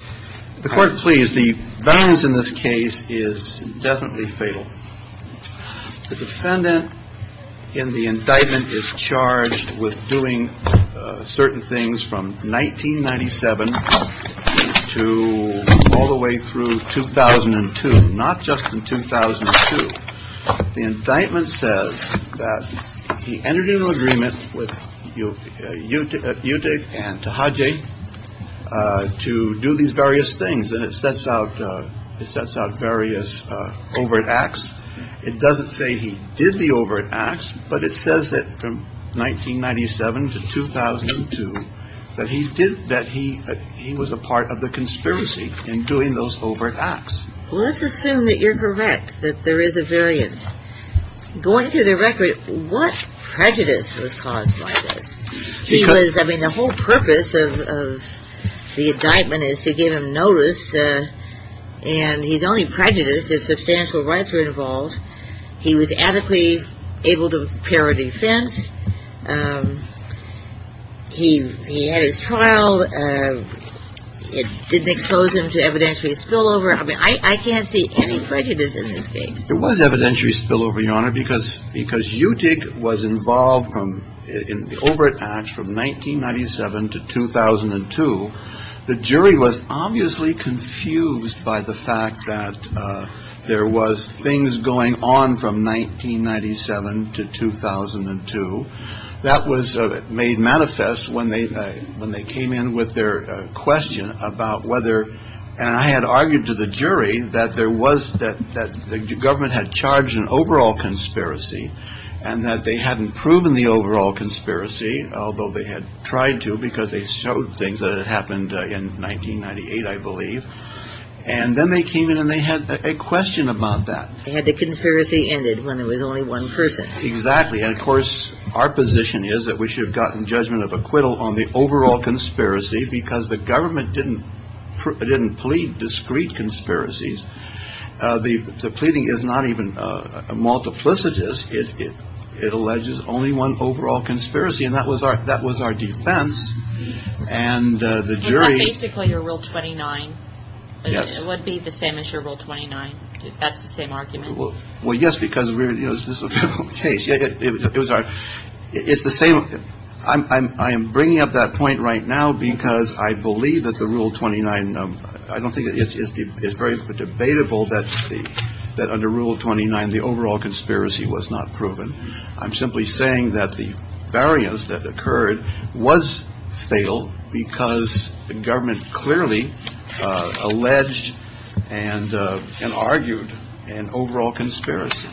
The defendant in the indictment is charged with doing certain things from 1997 to all the way through 2002, not just in 2002. The indictment says that he entered into an agreement with UTIG and TAHAJE to do these various things, and it sets out various overt acts. It doesn't say he did the overt acts, but it says that from 1997 to 2002 that he did, that he was a part of the conspiracy in doing those overt acts. Let's assume that you're correct, that there is a variance. Going through the record, what prejudice was caused by this? The whole purpose of the indictment is to give him notice, and he's only prejudiced if substantial rights were involved. He was adequately able to prepare a defense. He had his trial. It didn't expose him to evidentiary spillover. I mean, I can't see any prejudice in this case. It was evidentiary spillover, Your Honor, because UTIG was involved in the overt acts from 1997 to 2002. The jury was obviously confused by the fact that there was things going on from 1997 to 2002. That was made manifest when they came in with their question about whether, and I had argued to the jury, that the government had charged an overall conspiracy, and that they hadn't proven the overall conspiracy, although they had tried to because they showed things that had happened in 1998, I believe. And then they came in and they had a question about that. They had the conspiracy ended when there was only one person. Exactly. And, of course, our position is that we should have gotten judgment of acquittal on the overall conspiracy because the government didn't plead discrete conspiracies. The pleading is not even multiplicitous. It alleges only one overall conspiracy, and that was our defense. And the jury. Basically, your Rule 29 would be the same as your Rule 29. That's the same argument. Well, yes, because this is a case. It's the same. I am bringing up that point right now because I believe that the Rule 29. I don't think it's very debatable that that under Rule 29, the overall conspiracy was not proven. I'm simply saying that the variance that occurred was fatal because the government clearly alleged and argued an overall conspiracy.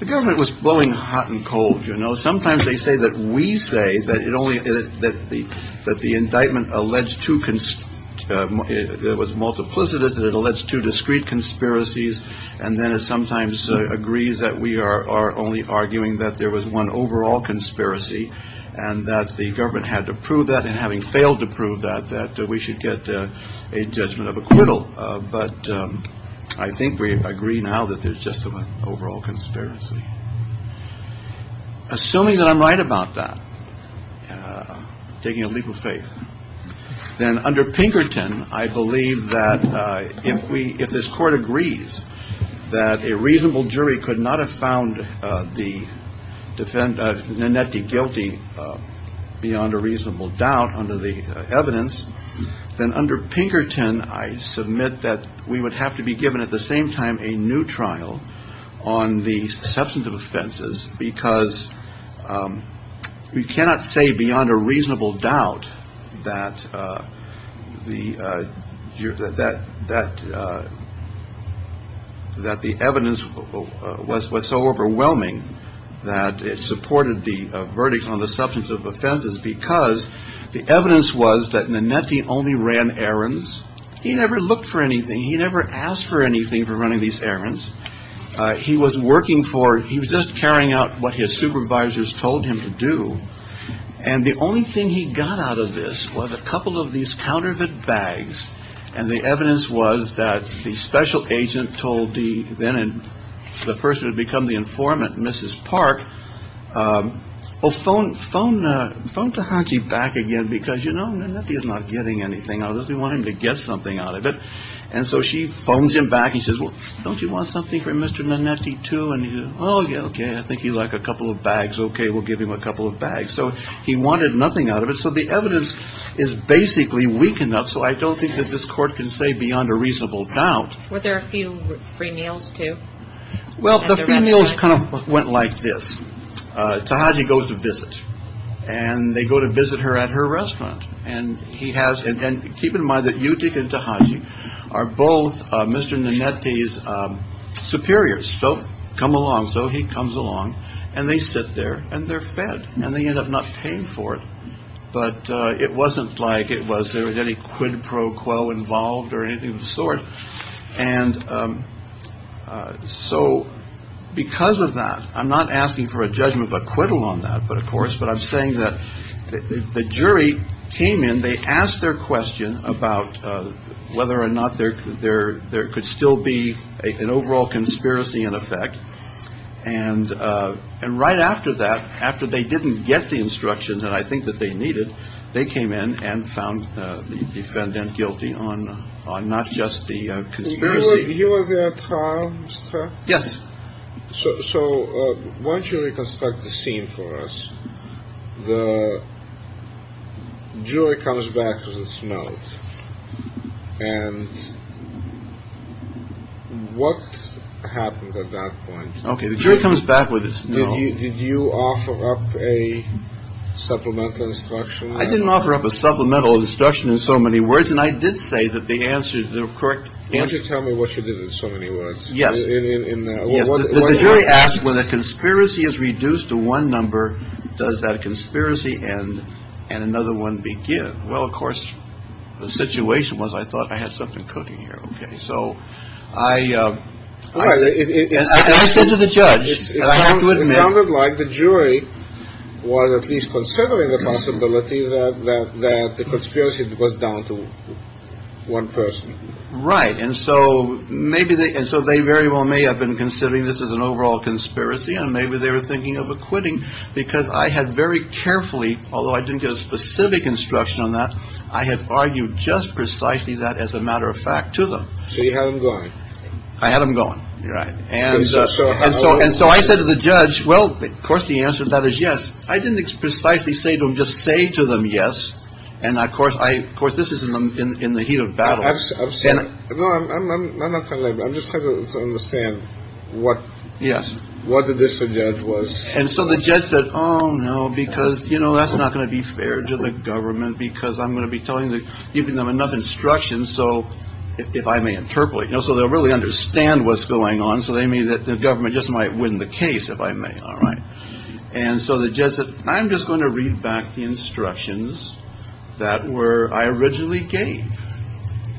The government was blowing hot and cold. You know, sometimes they say that we say that it only that the that the indictment alleged to it was multiplicitous and it alludes to discrete conspiracies. And then it sometimes agrees that we are only arguing that there was one overall conspiracy and that the government had to prove that. And having failed to prove that, that we should get a judgment of acquittal. But I think we agree now that there's just an overall conspiracy. Assuming that I'm right about that, taking a leap of faith, then under Pinkerton, I believe that if we if this court agrees that a reasonable jury could not have found the defendant, Nanetti guilty beyond a reasonable doubt under the evidence, then under Pinkerton, I submit that we would have to be given at the same time a new trial on the substantive offenses, because we cannot say beyond a reasonable doubt that the that that that the evidence was so overwhelming that it supported the verdict on the substantive offenses because the evidence was that Nanetti only ran errands. He never looked for anything. He never asked for anything for running these errands. He was working for he was just carrying out what his supervisors told him to do. And the only thing he got out of this was a couple of these counterfeit bags. And the evidence was that the special agent told the then and the person who had become the informant, Mrs. Park. Oh, phone, phone, phone to hockey back again, because, you know, he is not getting anything. I don't want him to get something out of it. And so she phones him back. He says, well, don't you want something for Mr. Nanetti, too? And, oh, yeah, OK. I think you like a couple of bags. OK, we'll give him a couple of bags. So he wanted nothing out of it. So the evidence is basically weak enough. So I don't think that this court can say beyond a reasonable doubt. Were there a few free meals, too? Well, the meals kind of went like this. Taji goes to visit and they go to visit her at her restaurant. And he has it. And keep in mind that you take it to Hajji are both Mr. Nanetti's superiors. So come along. So he comes along and they sit there and they're fed and they end up not paying for it. But it wasn't like it was there was any quid pro quo involved or anything of the sort. And so because of that, I'm not asking for a judgment of acquittal on that. But of course, but I'm saying that the jury came in. And they asked their question about whether or not they're there. There could still be an overall conspiracy in effect. And and right after that, after they didn't get the instructions that I think that they needed, they came in and found the defendant guilty on on not just the conspiracy. You were there. Yes. So once you reconstruct the scene for us, the jury comes back. No. And what happened at that point? OK, the jury comes back with this. Did you offer up a supplemental instruction? I didn't offer up a supplemental instruction in so many words. And I did say that the answer to the correct answer. Tell me what you did in so many words. Yes. In the jury asked whether conspiracy is reduced to one number. Does that conspiracy and and another one begin? Well, of course, the situation was I thought I had something cooking here. OK, so I said to the judge, it sounded like the jury was at least considering the possibility that that the conspiracy was down to one person. Right. And so maybe. And so they very well may have been considering this as an overall conspiracy. And maybe they were thinking of acquitting because I had very carefully, although I didn't get a specific instruction on that, I had argued just precisely that as a matter of fact to them. So you had him going. I had him going. Right. And so and so. And so I said to the judge, well, of course, the answer to that is yes. I didn't precisely say to him, just say to them, yes. And of course, I of course, this is in the heat of battle. I've said I'm just trying to understand what. Yes. What did this judge was. And so the judge said, oh, no, because, you know, that's not going to be fair to the government because I'm going to be telling them enough instructions. So if I may interpolate, you know, so they'll really understand what's going on. So they mean that the government just might win the case if I may. All right. And so the judge said, I'm just going to read back the instructions that were I originally gave.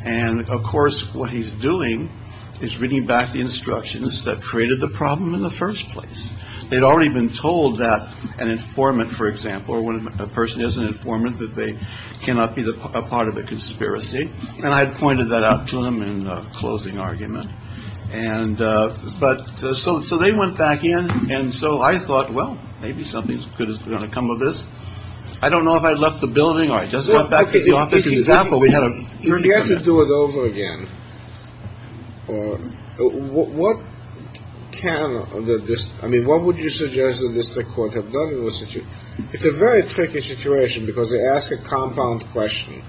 And of course, what he's doing is reading back the instructions that created the problem in the first place. They'd already been told that an informant, for example, or when a person is an informant that they cannot be a part of a conspiracy. And I had pointed that out to him in closing argument. And but so. So they went back in. And so I thought, well, maybe something good is going to come of this. I don't know if I'd left the building or I just went back to the office. Exactly. We had to do it over again. What can this. I mean, what would you suggest the district court have done in this issue? It's a very tricky situation because they ask a compound question.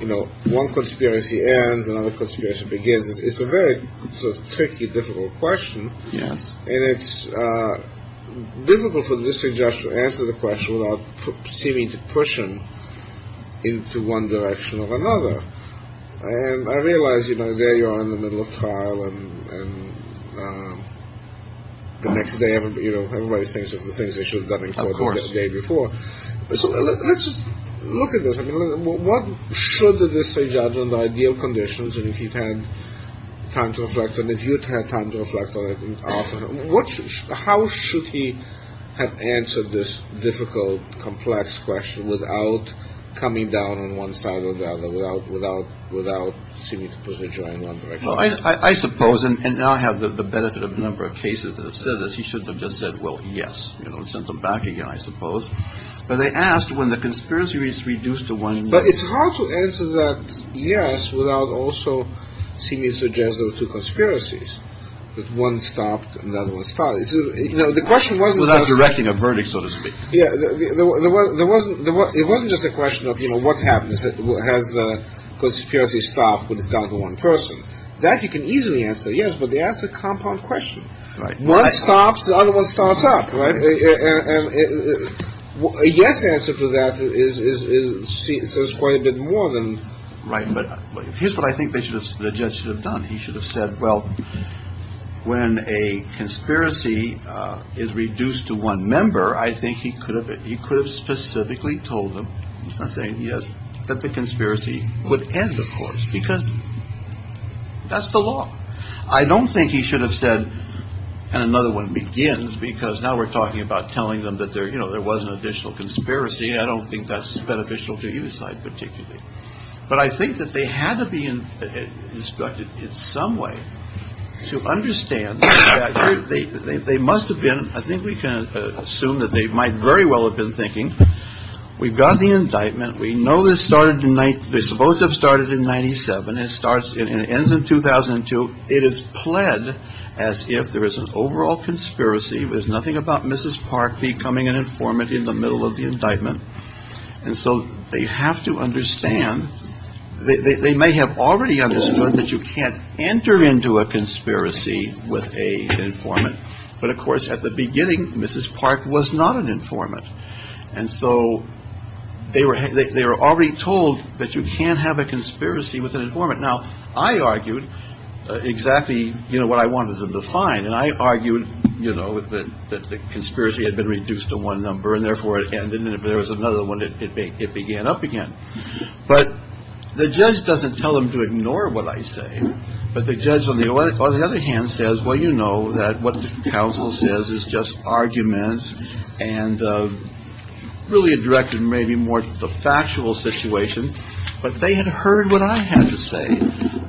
You know, one conspiracy ends, another conspiracy begins. It's a very tricky, difficult question. Yes. And it's difficult for the district judge to answer the question without seeming to push him into one direction or another. And I realize, you know, there you are in the middle of trial. The next day, you know, everybody thinks of the things they should have done in court the day before. So let's just look at this. I mean, what should the district judge on the ideal conditions? And if he'd had time to reflect on it, you'd have time to reflect on it. What how should he have answered this difficult, complex question without coming down on one side or the other, without without without seeming to push the jury in one direction? Well, I suppose. And now I have the benefit of a number of cases that have said that he shouldn't have just said, well, yes. You know, send them back again, I suppose. But they asked when the conspiracy is reduced to one. But it's hard to answer that. Yes. Without also seeming suggestive to conspiracies that one stopped. So, you know, the question was without directing a verdict, so to speak. Yeah. There was there wasn't there. It wasn't just a question of, you know, what happens? What has the conspiracy stopped with this guy? The one person that you can easily answer. Yes. But they ask the compound question. Right. One stops. The other one stops up. Yes. Answer to that is it says quite a bit more than right. But here's what I think they should have. The judge should have done. He should have said, well, when a conspiracy is reduced to one member, I think he could have. He could have specifically told them saying, yes, that the conspiracy would end, of course, because that's the law. I don't think he should have said and another one begins because now we're talking about telling them that there, you know, there was an additional conspiracy. I don't think that's beneficial to either side particularly. But I think that they had to be instructed in some way to understand that they must have been. I think we can assume that they might very well have been thinking we've got the indictment. We know this started tonight. They're supposed to have started in 97 and starts in 2002. It is pled as if there is an overall conspiracy. There's nothing about Mrs. Park becoming an informant in the middle of the indictment. And so they have to understand they may have already understood that you can't enter into a conspiracy with a informant. But of course, at the beginning, Mrs. Park was not an informant. And so they were they were already told that you can't have a conspiracy with an informant. Now, I argued exactly, you know, what I wanted them to find. And I argued, you know, that the conspiracy had been reduced to one number and therefore it ended. And if there was another one, it began up again. But the judge doesn't tell them to ignore what I say. But the judge, on the other hand, says, well, you know that what the counsel says is just arguments. And really a direct and maybe more factual situation. But they had heard what I had to say.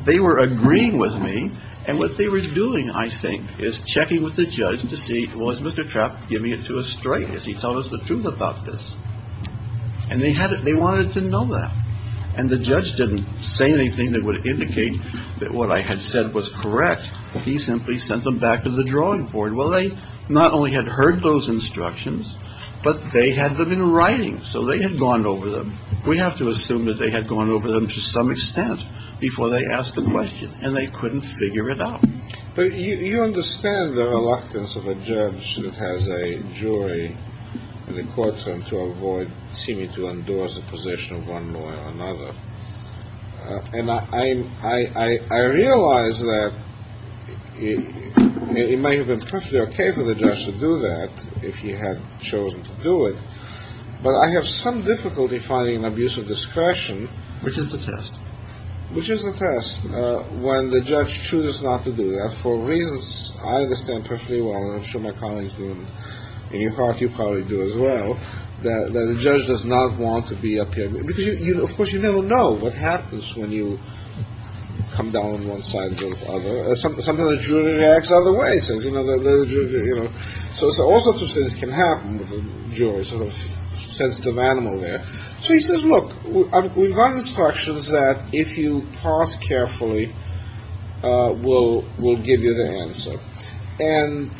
They were agreeing with me. And what they were doing, I think, is checking with the judge to see was Mr. Trapp giving it to a straight as he told us the truth about this. And they had it. They wanted to know that. And the judge didn't say anything that would indicate that what I had said was correct. He simply sent them back to the drawing board. Well, they not only had heard those instructions, but they had them in writing. So they had gone over them. We have to assume that they had gone over them to some extent before they asked the question and they couldn't figure it out. But you understand the reluctance of a judge that has a jury in the courtroom to avoid seeming to endorse the position of one lawyer or another. And I realize that it may have been perfectly OK for the judge to do that if he had chosen to do it. But I have some difficulty finding an abuse of discretion, which is the test, which is the test. When the judge chooses not to do that for reasons I understand perfectly well. I'm sure my colleagues in your heart, you probably do as well. The judge does not want to be up here, because, of course, you never know what happens when you come down on one side or the other. Sometimes the jury reacts other ways. So all sorts of things can happen with a jury, sort of sensitive animal there. So he says, look, we've got instructions that if you pause carefully, we'll give you the answer. And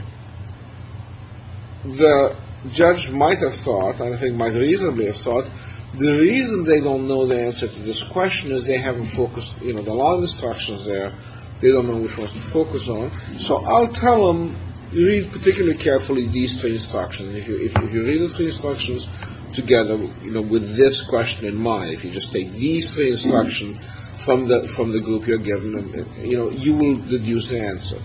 the judge might have thought, and I think might reasonably have thought, the reason they don't know the answer to this question is they haven't focused. There are a lot of instructions there they don't know which ones to focus on. So I'll tell them, read particularly carefully these three instructions. If you read the three instructions together with this question in mind, if you just take these three instructions from the group you're given, you will deduce the answer.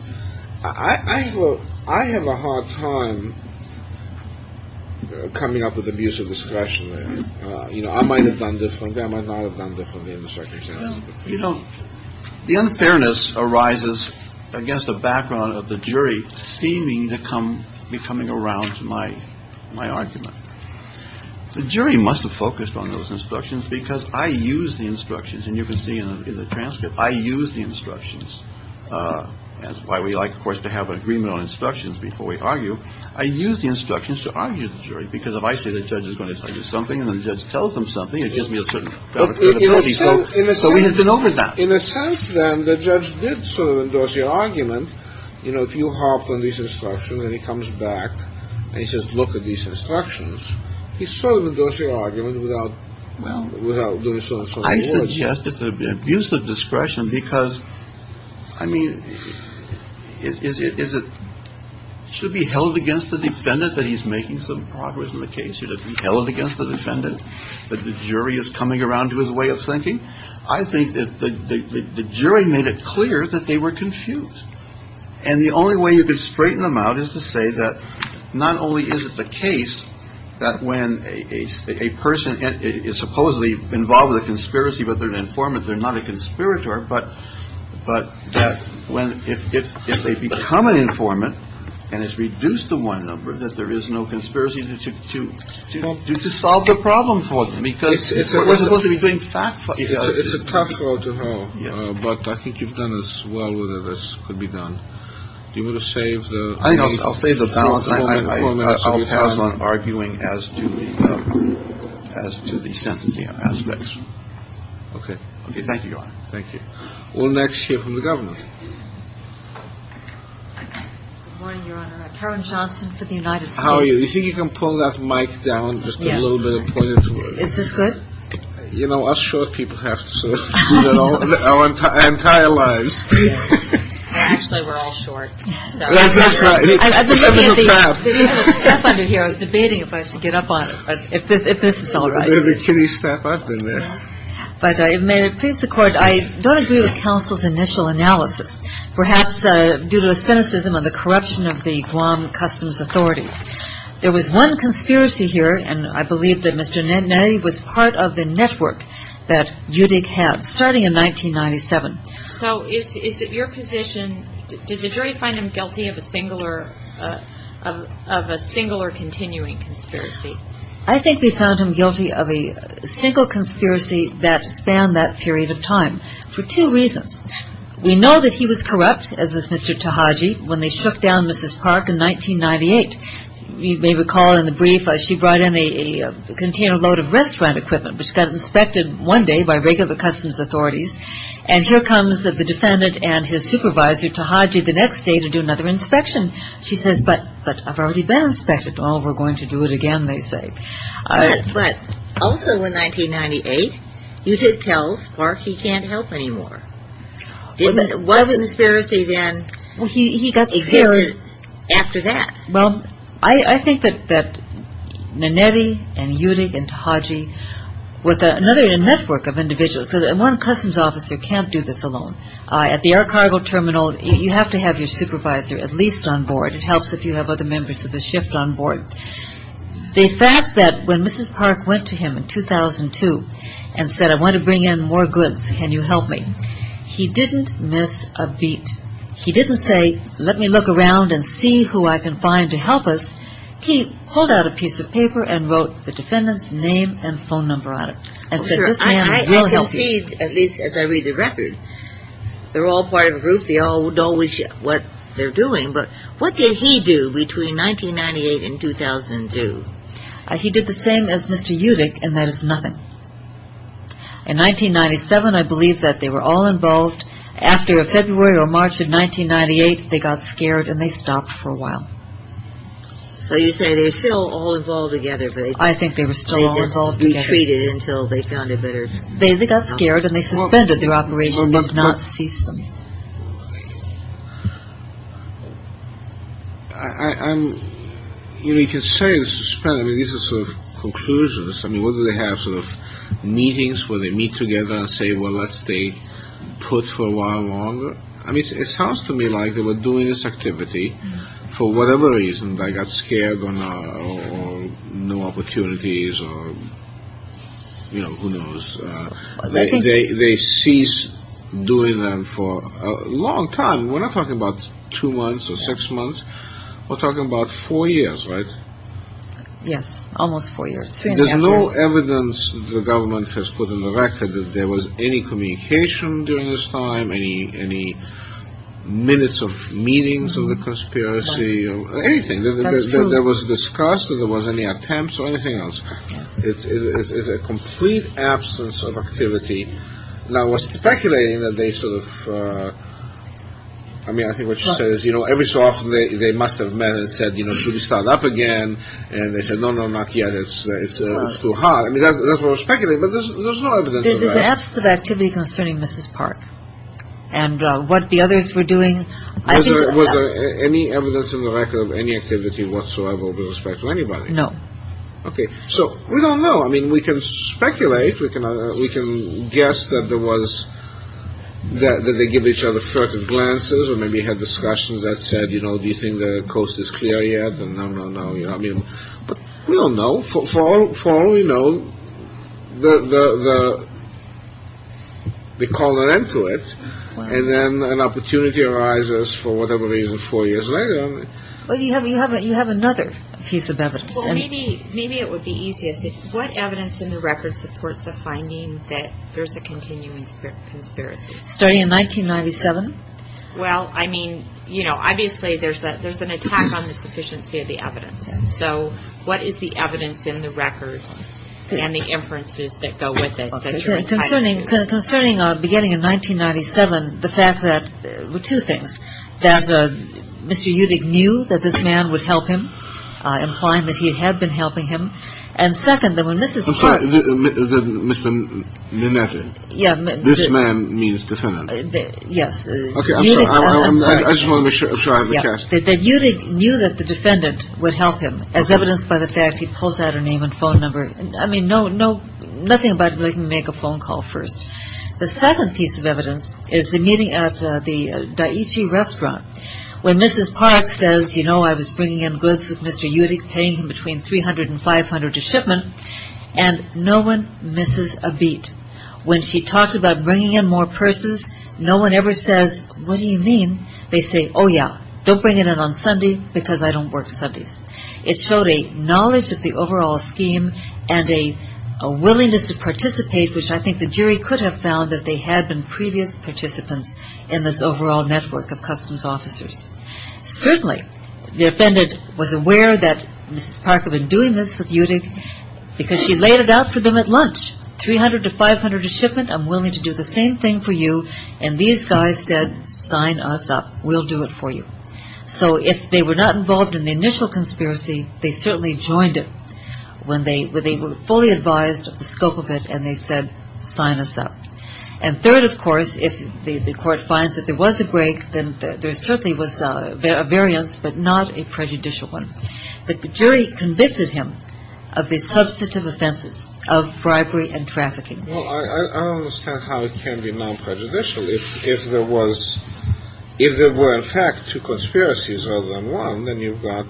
I have a hard time coming up with abusive discretion. You know, I might have done this one. I might not have done differently. You know, the unfairness arises against the background of the jury seeming to come becoming around my my argument. The jury must have focused on those instructions because I use the instructions and you can see in the transcript. I use the instructions. That's why we like, of course, to have an agreement on instructions before we argue. I use the instructions to argue the jury because if I say the judge is going to tell you something and the judge tells them something, it gives me a certain. So we have been over that in a sense. Then the judge did sort of endorse your argument. You know, if you hop on these instructions and he comes back and he says, look at these instructions. He's sort of endorsing argument without well, without doing so. So I suggest it's an abuse of discretion because I mean, is it should be held against the defendant that he's making some progress in the case? Should it be held against the defendant that the jury is coming around to his way of thinking? I think that the jury made it clear that they were confused. And the only way you could straighten them out is to say that not only is it the case that when a person is supposedly involved with a conspiracy, but they're an informant, they're not a conspirator. But but that when if they become an informant and it's reduced to one number, that there is no conspiracy to do to solve the problem for them because it's supposed to be doing fact. It's a tough road to go. But I think you've done as well with it as could be done. Do you want to save? I'll save the balance. I'll pass on arguing as to as to the sentencing aspects. OK. OK. Thank you. Thank you. Well, next year from the government. Good morning, Your Honor. Karen Johnson for the United. How are you? You think you can pull that mic down just a little bit? You know, I'm sure people have to do that our entire lives. Actually, we're all short. I was debating if I should get up on it. If this is all right, can you step up in there? But I made it please the court. I don't agree with counsel's initial analysis, perhaps due to a cynicism of the corruption of the Guam Customs Authority. There was one conspiracy here, and I believe that Mr. Netanyahu was part of the network that you had starting in 1997. So is it your position? Did the jury find him guilty of a single or of a single or continuing conspiracy? I think we found him guilty of a single conspiracy that spanned that period of time for two reasons. We know that he was corrupt, as was Mr. Tahaji, when they shook down Mrs. Park in 1998. You may recall in the brief, she brought in a container load of restaurant equipment, which got inspected one day by regular customs authorities. And here comes the defendant and his supervisor, Tahaji, the next day to do another inspection. She says, but I've already been inspected. Oh, we're going to do it again, they say. But also in 1998, you did tell Park he can't help anymore. What conspiracy then existed after that? Well, I think that Nanetti and Yudig and Tahaji were another network of individuals. So one customs officer can't do this alone. At the air cargo terminal, you have to have your supervisor at least on board. It helps if you have other members of the shift on board. The fact that when Mrs. Park went to him in 2002 and said, I want to bring in more goods, can you help me? He didn't miss a beat. He didn't say, let me look around and see who I can find to help us. He pulled out a piece of paper and wrote the defendant's name and phone number on it. I can see, at least as I read the record, they're all part of a group. They all know what they're doing, but what did he do between 1998 and 2002? He did the same as Mr. Yudig, and that is nothing. In 1997, I believe that they were all involved. After a February or March of 1998, they got scared and they stopped for a while. So you say they were still all involved together. I think they were still all involved together. They just retreated until they found a better... They got scared and they suspended their operation and did not cease them. You can say they suspended. These are sort of conclusions. What do they have? Sort of meetings where they meet together and say, well, let's stay put for a while longer. It sounds to me like they were doing this activity for whatever reason. They got scared or no opportunities or who knows. They ceased doing them for a long time. We're not talking about two months or six months. We're talking about four years, right? Yes, almost four years. There's no evidence the government has put in the record that there was any communication during this time, any minutes of meetings or the conspiracy or anything. That's true. That was discussed or there was any attempts or anything else. It's a complete absence of activity. Now, I was speculating that they sort of... I mean, I think what she says, you know, every so often they must have met and said, you know, should we start up again? And they said, no, no, not yet. It's too hard. I mean, that's what I was speculating, but there's no evidence of that. There's an absence of activity concerning Mrs. Park and what the others were doing. Was there any evidence in the record of any activity whatsoever with respect to anybody? No. Okay. So we don't know. I mean, we can speculate. We can guess that there was... that they gave each other first glances or maybe had discussions that said, you know, do you think the coast is clear yet? No, no, no. I mean, we don't know. For all we know, they called an end to it, and then an opportunity arises for whatever reason four years later. Well, you have another piece of evidence. Well, maybe it would be easiest. What evidence in the record supports a finding that there's a continuing conspiracy? Starting in 1997. Well, I mean, you know, obviously there's an attack on the sufficiency of the evidence. So what is the evidence in the record and the inferences that go with it? Concerning beginning in 1997, the fact that two things, that Mr. Udig knew that this man would help him, implying that he had been helping him, and second, that when Mrs. Park... I'm sorry. Mr. Nemeth. Yeah. This man means defendant. Yes. Okay. I'm sorry. I just want to make sure I have the cast. That Udig knew that the defendant would help him, as evidenced by the fact he pulls out her name and phone number. I mean, nothing about making a phone call first. The second piece of evidence is the meeting at the Daiichi restaurant when Mrs. Park says, you know, I was bringing in goods with Mr. Udig, paying him between $300 and $500 a shipment, and no one misses a beat. When she talked about bringing in more purses, no one ever says, what do you mean? They say, oh, yeah, don't bring it in on Sunday because I don't work Sundays. It showed a knowledge of the overall scheme and a willingness to participate, which I think the jury could have found that they had been previous participants in this overall network of customs officers. Certainly the defendant was aware that Mrs. Park had been doing this with Udig because she laid it out for them at lunch. $300 to $500 a shipment, I'm willing to do the same thing for you, and these guys said, sign us up. We'll do it for you. So if they were not involved in the initial conspiracy, they certainly joined it when they were fully advised of the scope of it and they said, sign us up. And third, of course, if the court finds that there was a break, then there certainly was a variance but not a prejudicial one. The jury convicted him of the substantive offenses of bribery and trafficking. Well, I don't understand how it can be non-prejudicial. If there were, in fact, two conspiracies rather than one, then you've got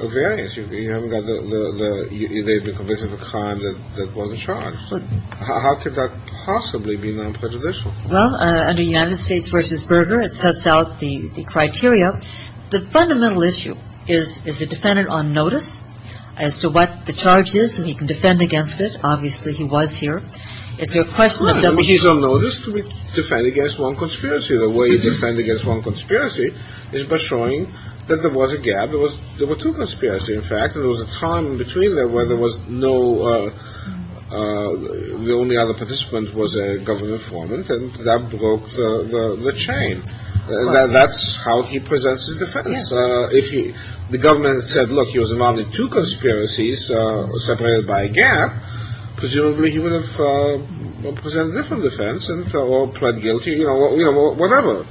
a variance. You haven't got the they've been convicted of a crime that wasn't charged. How could that possibly be non-prejudicial? Well, under United States v. Berger, it sets out the criteria. The fundamental issue is the defendant on notice as to what the charge is and he can defend against it. Obviously, he was here. Is there a question of double? He's on notice to defend against one conspiracy. The way you defend against one conspiracy is by showing that there was a gap. There were two conspiracies, in fact. There was a time in between there where there was no the only other participant was a government foreman and that broke the chain. That's how he presents his defense. If the government said, look, he was involved in two conspiracies separated by a gap, presumably he would have presented a different defense or pled guilty or whatever.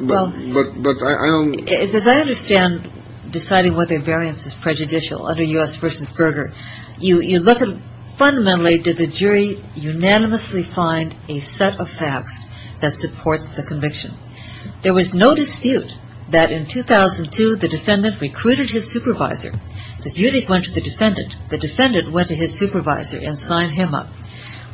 But I don't As I understand deciding whether a variance is prejudicial under U.S. v. Berger, you look at fundamentally did the jury unanimously find a set of facts that supports the conviction. There was no dispute that in 2002 the defendant recruited his supervisor. Yudik went to the defendant. The defendant went to his supervisor and signed him up.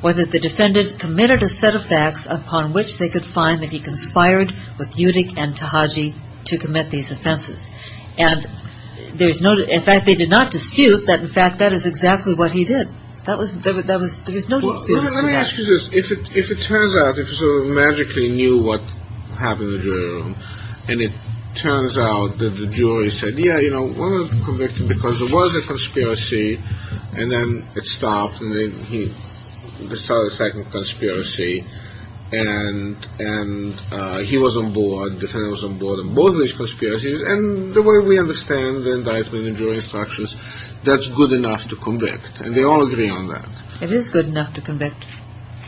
Whether the defendant committed a set of facts upon which they could find that he conspired with Yudik and Tahaji to commit these offenses. And there's no in fact, they did not dispute that. In fact, that is exactly what he did. There was no dispute. Let me ask you this. If it turns out, if you sort of magically knew what happened in the jury room and it turns out that the jury said, yeah, you know, we're going to convict him because it was a conspiracy and then it stopped and then he started a second conspiracy and he was on board, the defendant was on board on both of these conspiracies and the way we understand the indictment and jury instructions, that's good enough to convict. And they all agree on that. It is good enough to convict.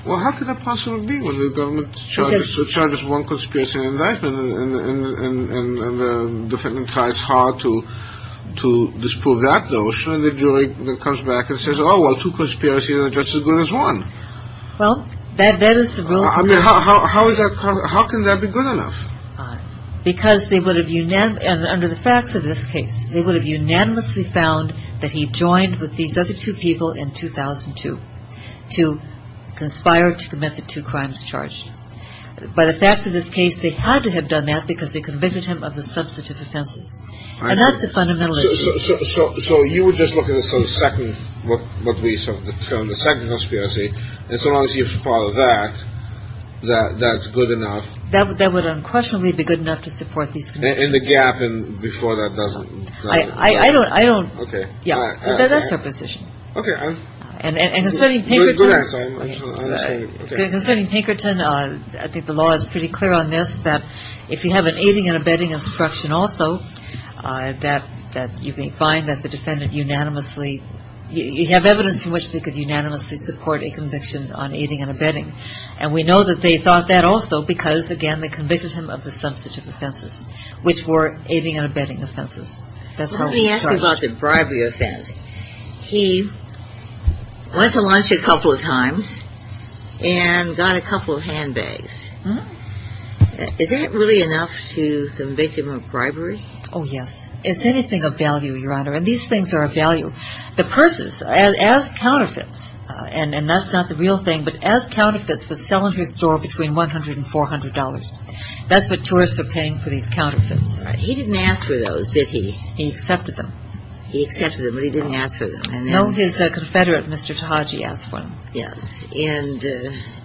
Well, how could that possibly be when the government charges one conspiracy in the indictment and the defendant tries hard to disprove that notion and the jury comes back and says, oh, well, two conspiracies and the judge is as good as one. Well, that is the rule. I mean, how can that be good enough? Because they would have, under the facts of this case, they would have unanimously found that he joined with these other two people in 2002 to conspire to commit the two crimes charged. By the facts of this case, they had to have done that because they convicted him of the substantive offenses. And that's the fundamental issue. So you would just look at the second conspiracy and so long as you follow that, that's good enough. That would unquestionably be good enough to support these conspiracies. In the gap and before that doesn't. I don't. Okay. That's our position. Okay. And concerning Pinkerton, I think the law is pretty clear on this, that if you have an aiding and abetting instruction also, that you may find that the defendant unanimously, you have evidence from which they could unanimously support a conviction on aiding and abetting. And we know that they thought that also because, again, they convicted him of the substantive offenses, which were aiding and abetting offenses. Let me ask you about the bribery offense. He went to lunch a couple of times and got a couple of handbags. Is that really enough to convict him of bribery? Oh, yes. It's anything of value, Your Honor, and these things are of value. The persons, as counterfeits, and that's not the real thing, but as counterfeits was selling her store between $100 and $400. That's what tourists are paying for these counterfeits. He didn't ask for those, did he? He accepted them. He accepted them, but he didn't ask for them. No, his confederate, Mr. Tahaji, asked for them. Yes. And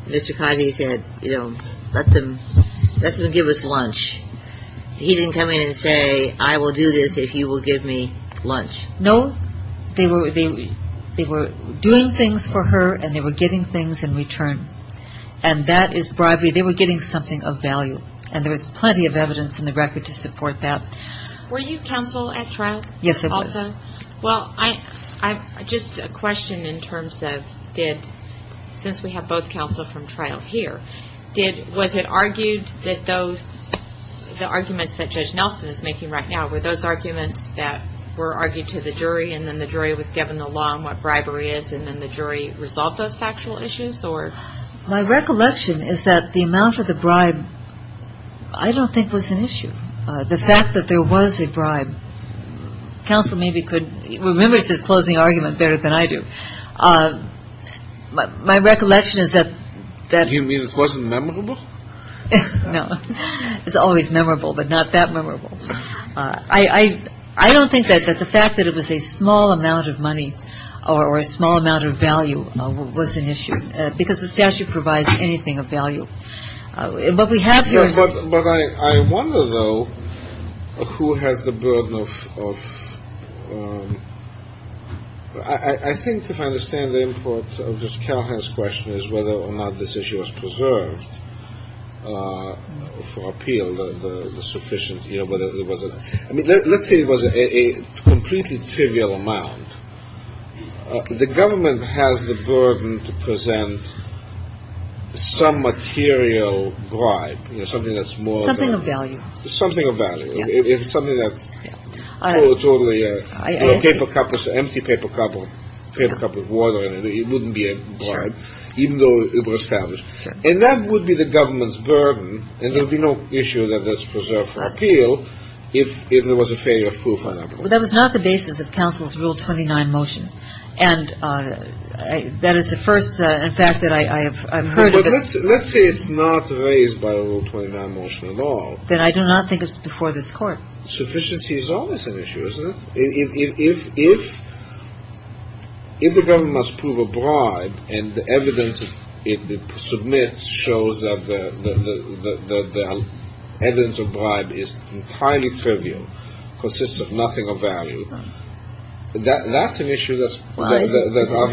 Mr. Tahaji said, you know, let them give us lunch. He didn't come in and say, I will do this if you will give me lunch. No. They were doing things for her and they were getting things in return, and that is bribery. They were getting something of value, and there was plenty of evidence in the record to support that. Were you counsel at trial also? Yes, I was. Well, just a question in terms of did, since we have both counsel from trial here, was it argued that the arguments that Judge Nelson is making right now were those arguments that were argued to the jury and then the jury was given the law on what bribery is and then the jury resolved those factual issues or? My recollection is that the amount of the bribe I don't think was an issue. The fact that there was a bribe, counsel maybe could remember to close the argument better than I do. My recollection is that. Do you mean it wasn't memorable? No. It's always memorable, but not that memorable. I don't think that the fact that it was a small amount of money or a small amount of value was an issue because the statute provides anything of value. But we have yours. But I wonder, though, who has the burden of, I think if I understand the import of Ms. Callahan's question is whether or not this issue was preserved for appeal, the sufficient, you know, whether there was a, I mean, let's say it was a completely trivial amount. The government has the burden to present some material bribe, you know, something that's more than. Something of value. Something of value. It's something that's totally, you know, paper cup, it's an empty paper cup with water in it. It wouldn't be a bribe, even though it was established. And that would be the government's burden, and there would be no issue that that's preserved for appeal if there was a failure of proof. Well, that was not the basis of counsel's Rule 29 motion. And that is the first, in fact, that I have heard of. But let's say it's not raised by a Rule 29 motion at all. Then I do not think it's before this Court. Sufficiency is always an issue, isn't it? If the government must prove a bribe, and the evidence it submits shows that the evidence of bribe is entirely trivial, consists of nothing of value, that's an issue that's obviously.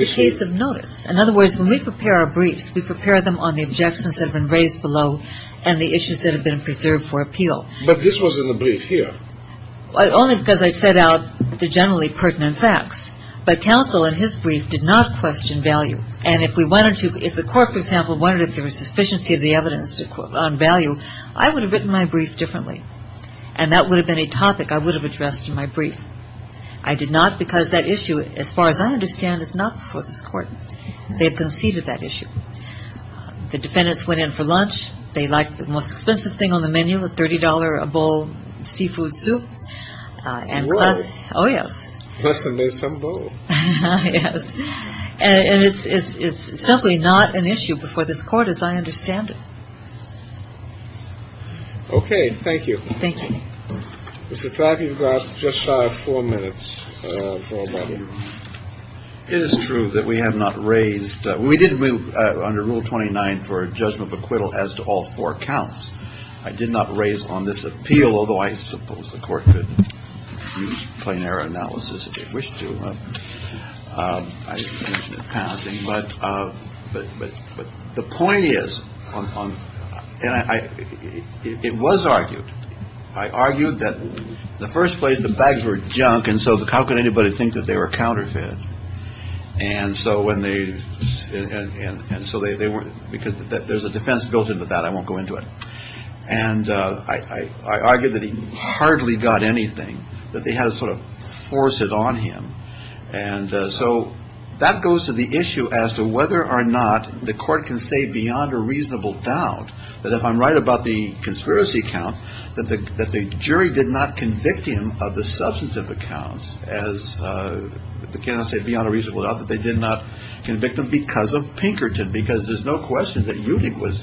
It's a case of notice. In other words, when we prepare our briefs, we prepare them on the objections that have been raised below and the issues that have been preserved for appeal. But this wasn't a brief here. Only because I set out the generally pertinent facts. But counsel in his brief did not question value. And if we wanted to, if the Court, for example, wanted if there was sufficiency of the evidence on value, I would have written my brief differently. And that would have been a topic I would have addressed in my brief. I did not because that issue, as far as I understand, is not before this Court. They have conceded that issue. The defendants went in for lunch. They liked the most expensive thing on the menu, the $30 a bowl seafood soup. And class. Oh, yes. Bless and may some bowl. Yes. And it's simply not an issue before this Court, as I understand it. Okay. Thank you. Thank you. Mr. Trapp, you've got just shy of four minutes. It is true that we have not raised. We didn't move under Rule 29 for a judgment of acquittal as to all four counts. I did not raise on this appeal, although I suppose the court could play their analysis if they wish to. But the point is, it was argued. I argued that the first place the bags were junk. And so how could anybody think that they were counterfeit? And so when they and so they weren't because there's a defense built into that. I won't go into it. And I argued that he hardly got anything that they had to sort of force it on him. And so that goes to the issue as to whether or not the court can say beyond a reasonable doubt that if I'm right about the conspiracy account, that the jury did not convict him of the substantive accounts as they cannot say beyond a reasonable doubt that they did not convict him because of Pinkerton, because there's no question that he was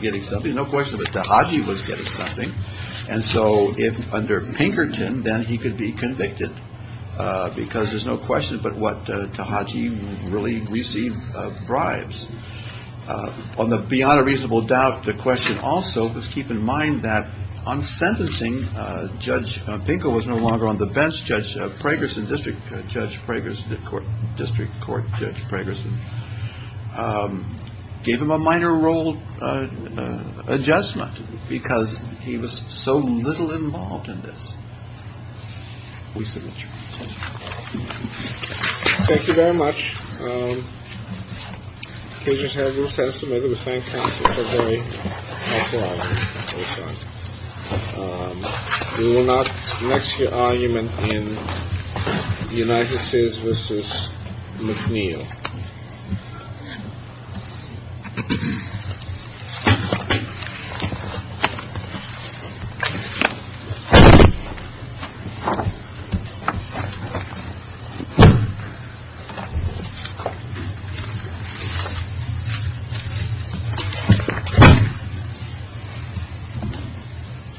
getting something. No question that he was getting something. And so if under Pinkerton, then he could be convicted because there's no question. But what to Haji really receive bribes on the beyond a reasonable doubt. The question also was keep in mind that on sentencing, Judge Pinker was no longer on the bench. Judge Pregerson, District Judge Pregerson, the court district court, Judge Pregerson gave him a minor role adjustment because he was so little involved in this. Thank you very much. Please have your sense of whether the bank. We will not next year argument in the United States. This is McNeil.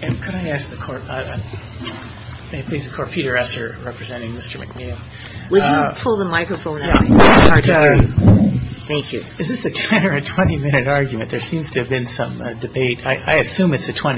And can I ask the court, please? Peter Esser representing Mr. McNeil. Pull the microphone. Thank you. Is this a 10 or 20 minute argument? There seems to have been some debate. I assume it's a 20.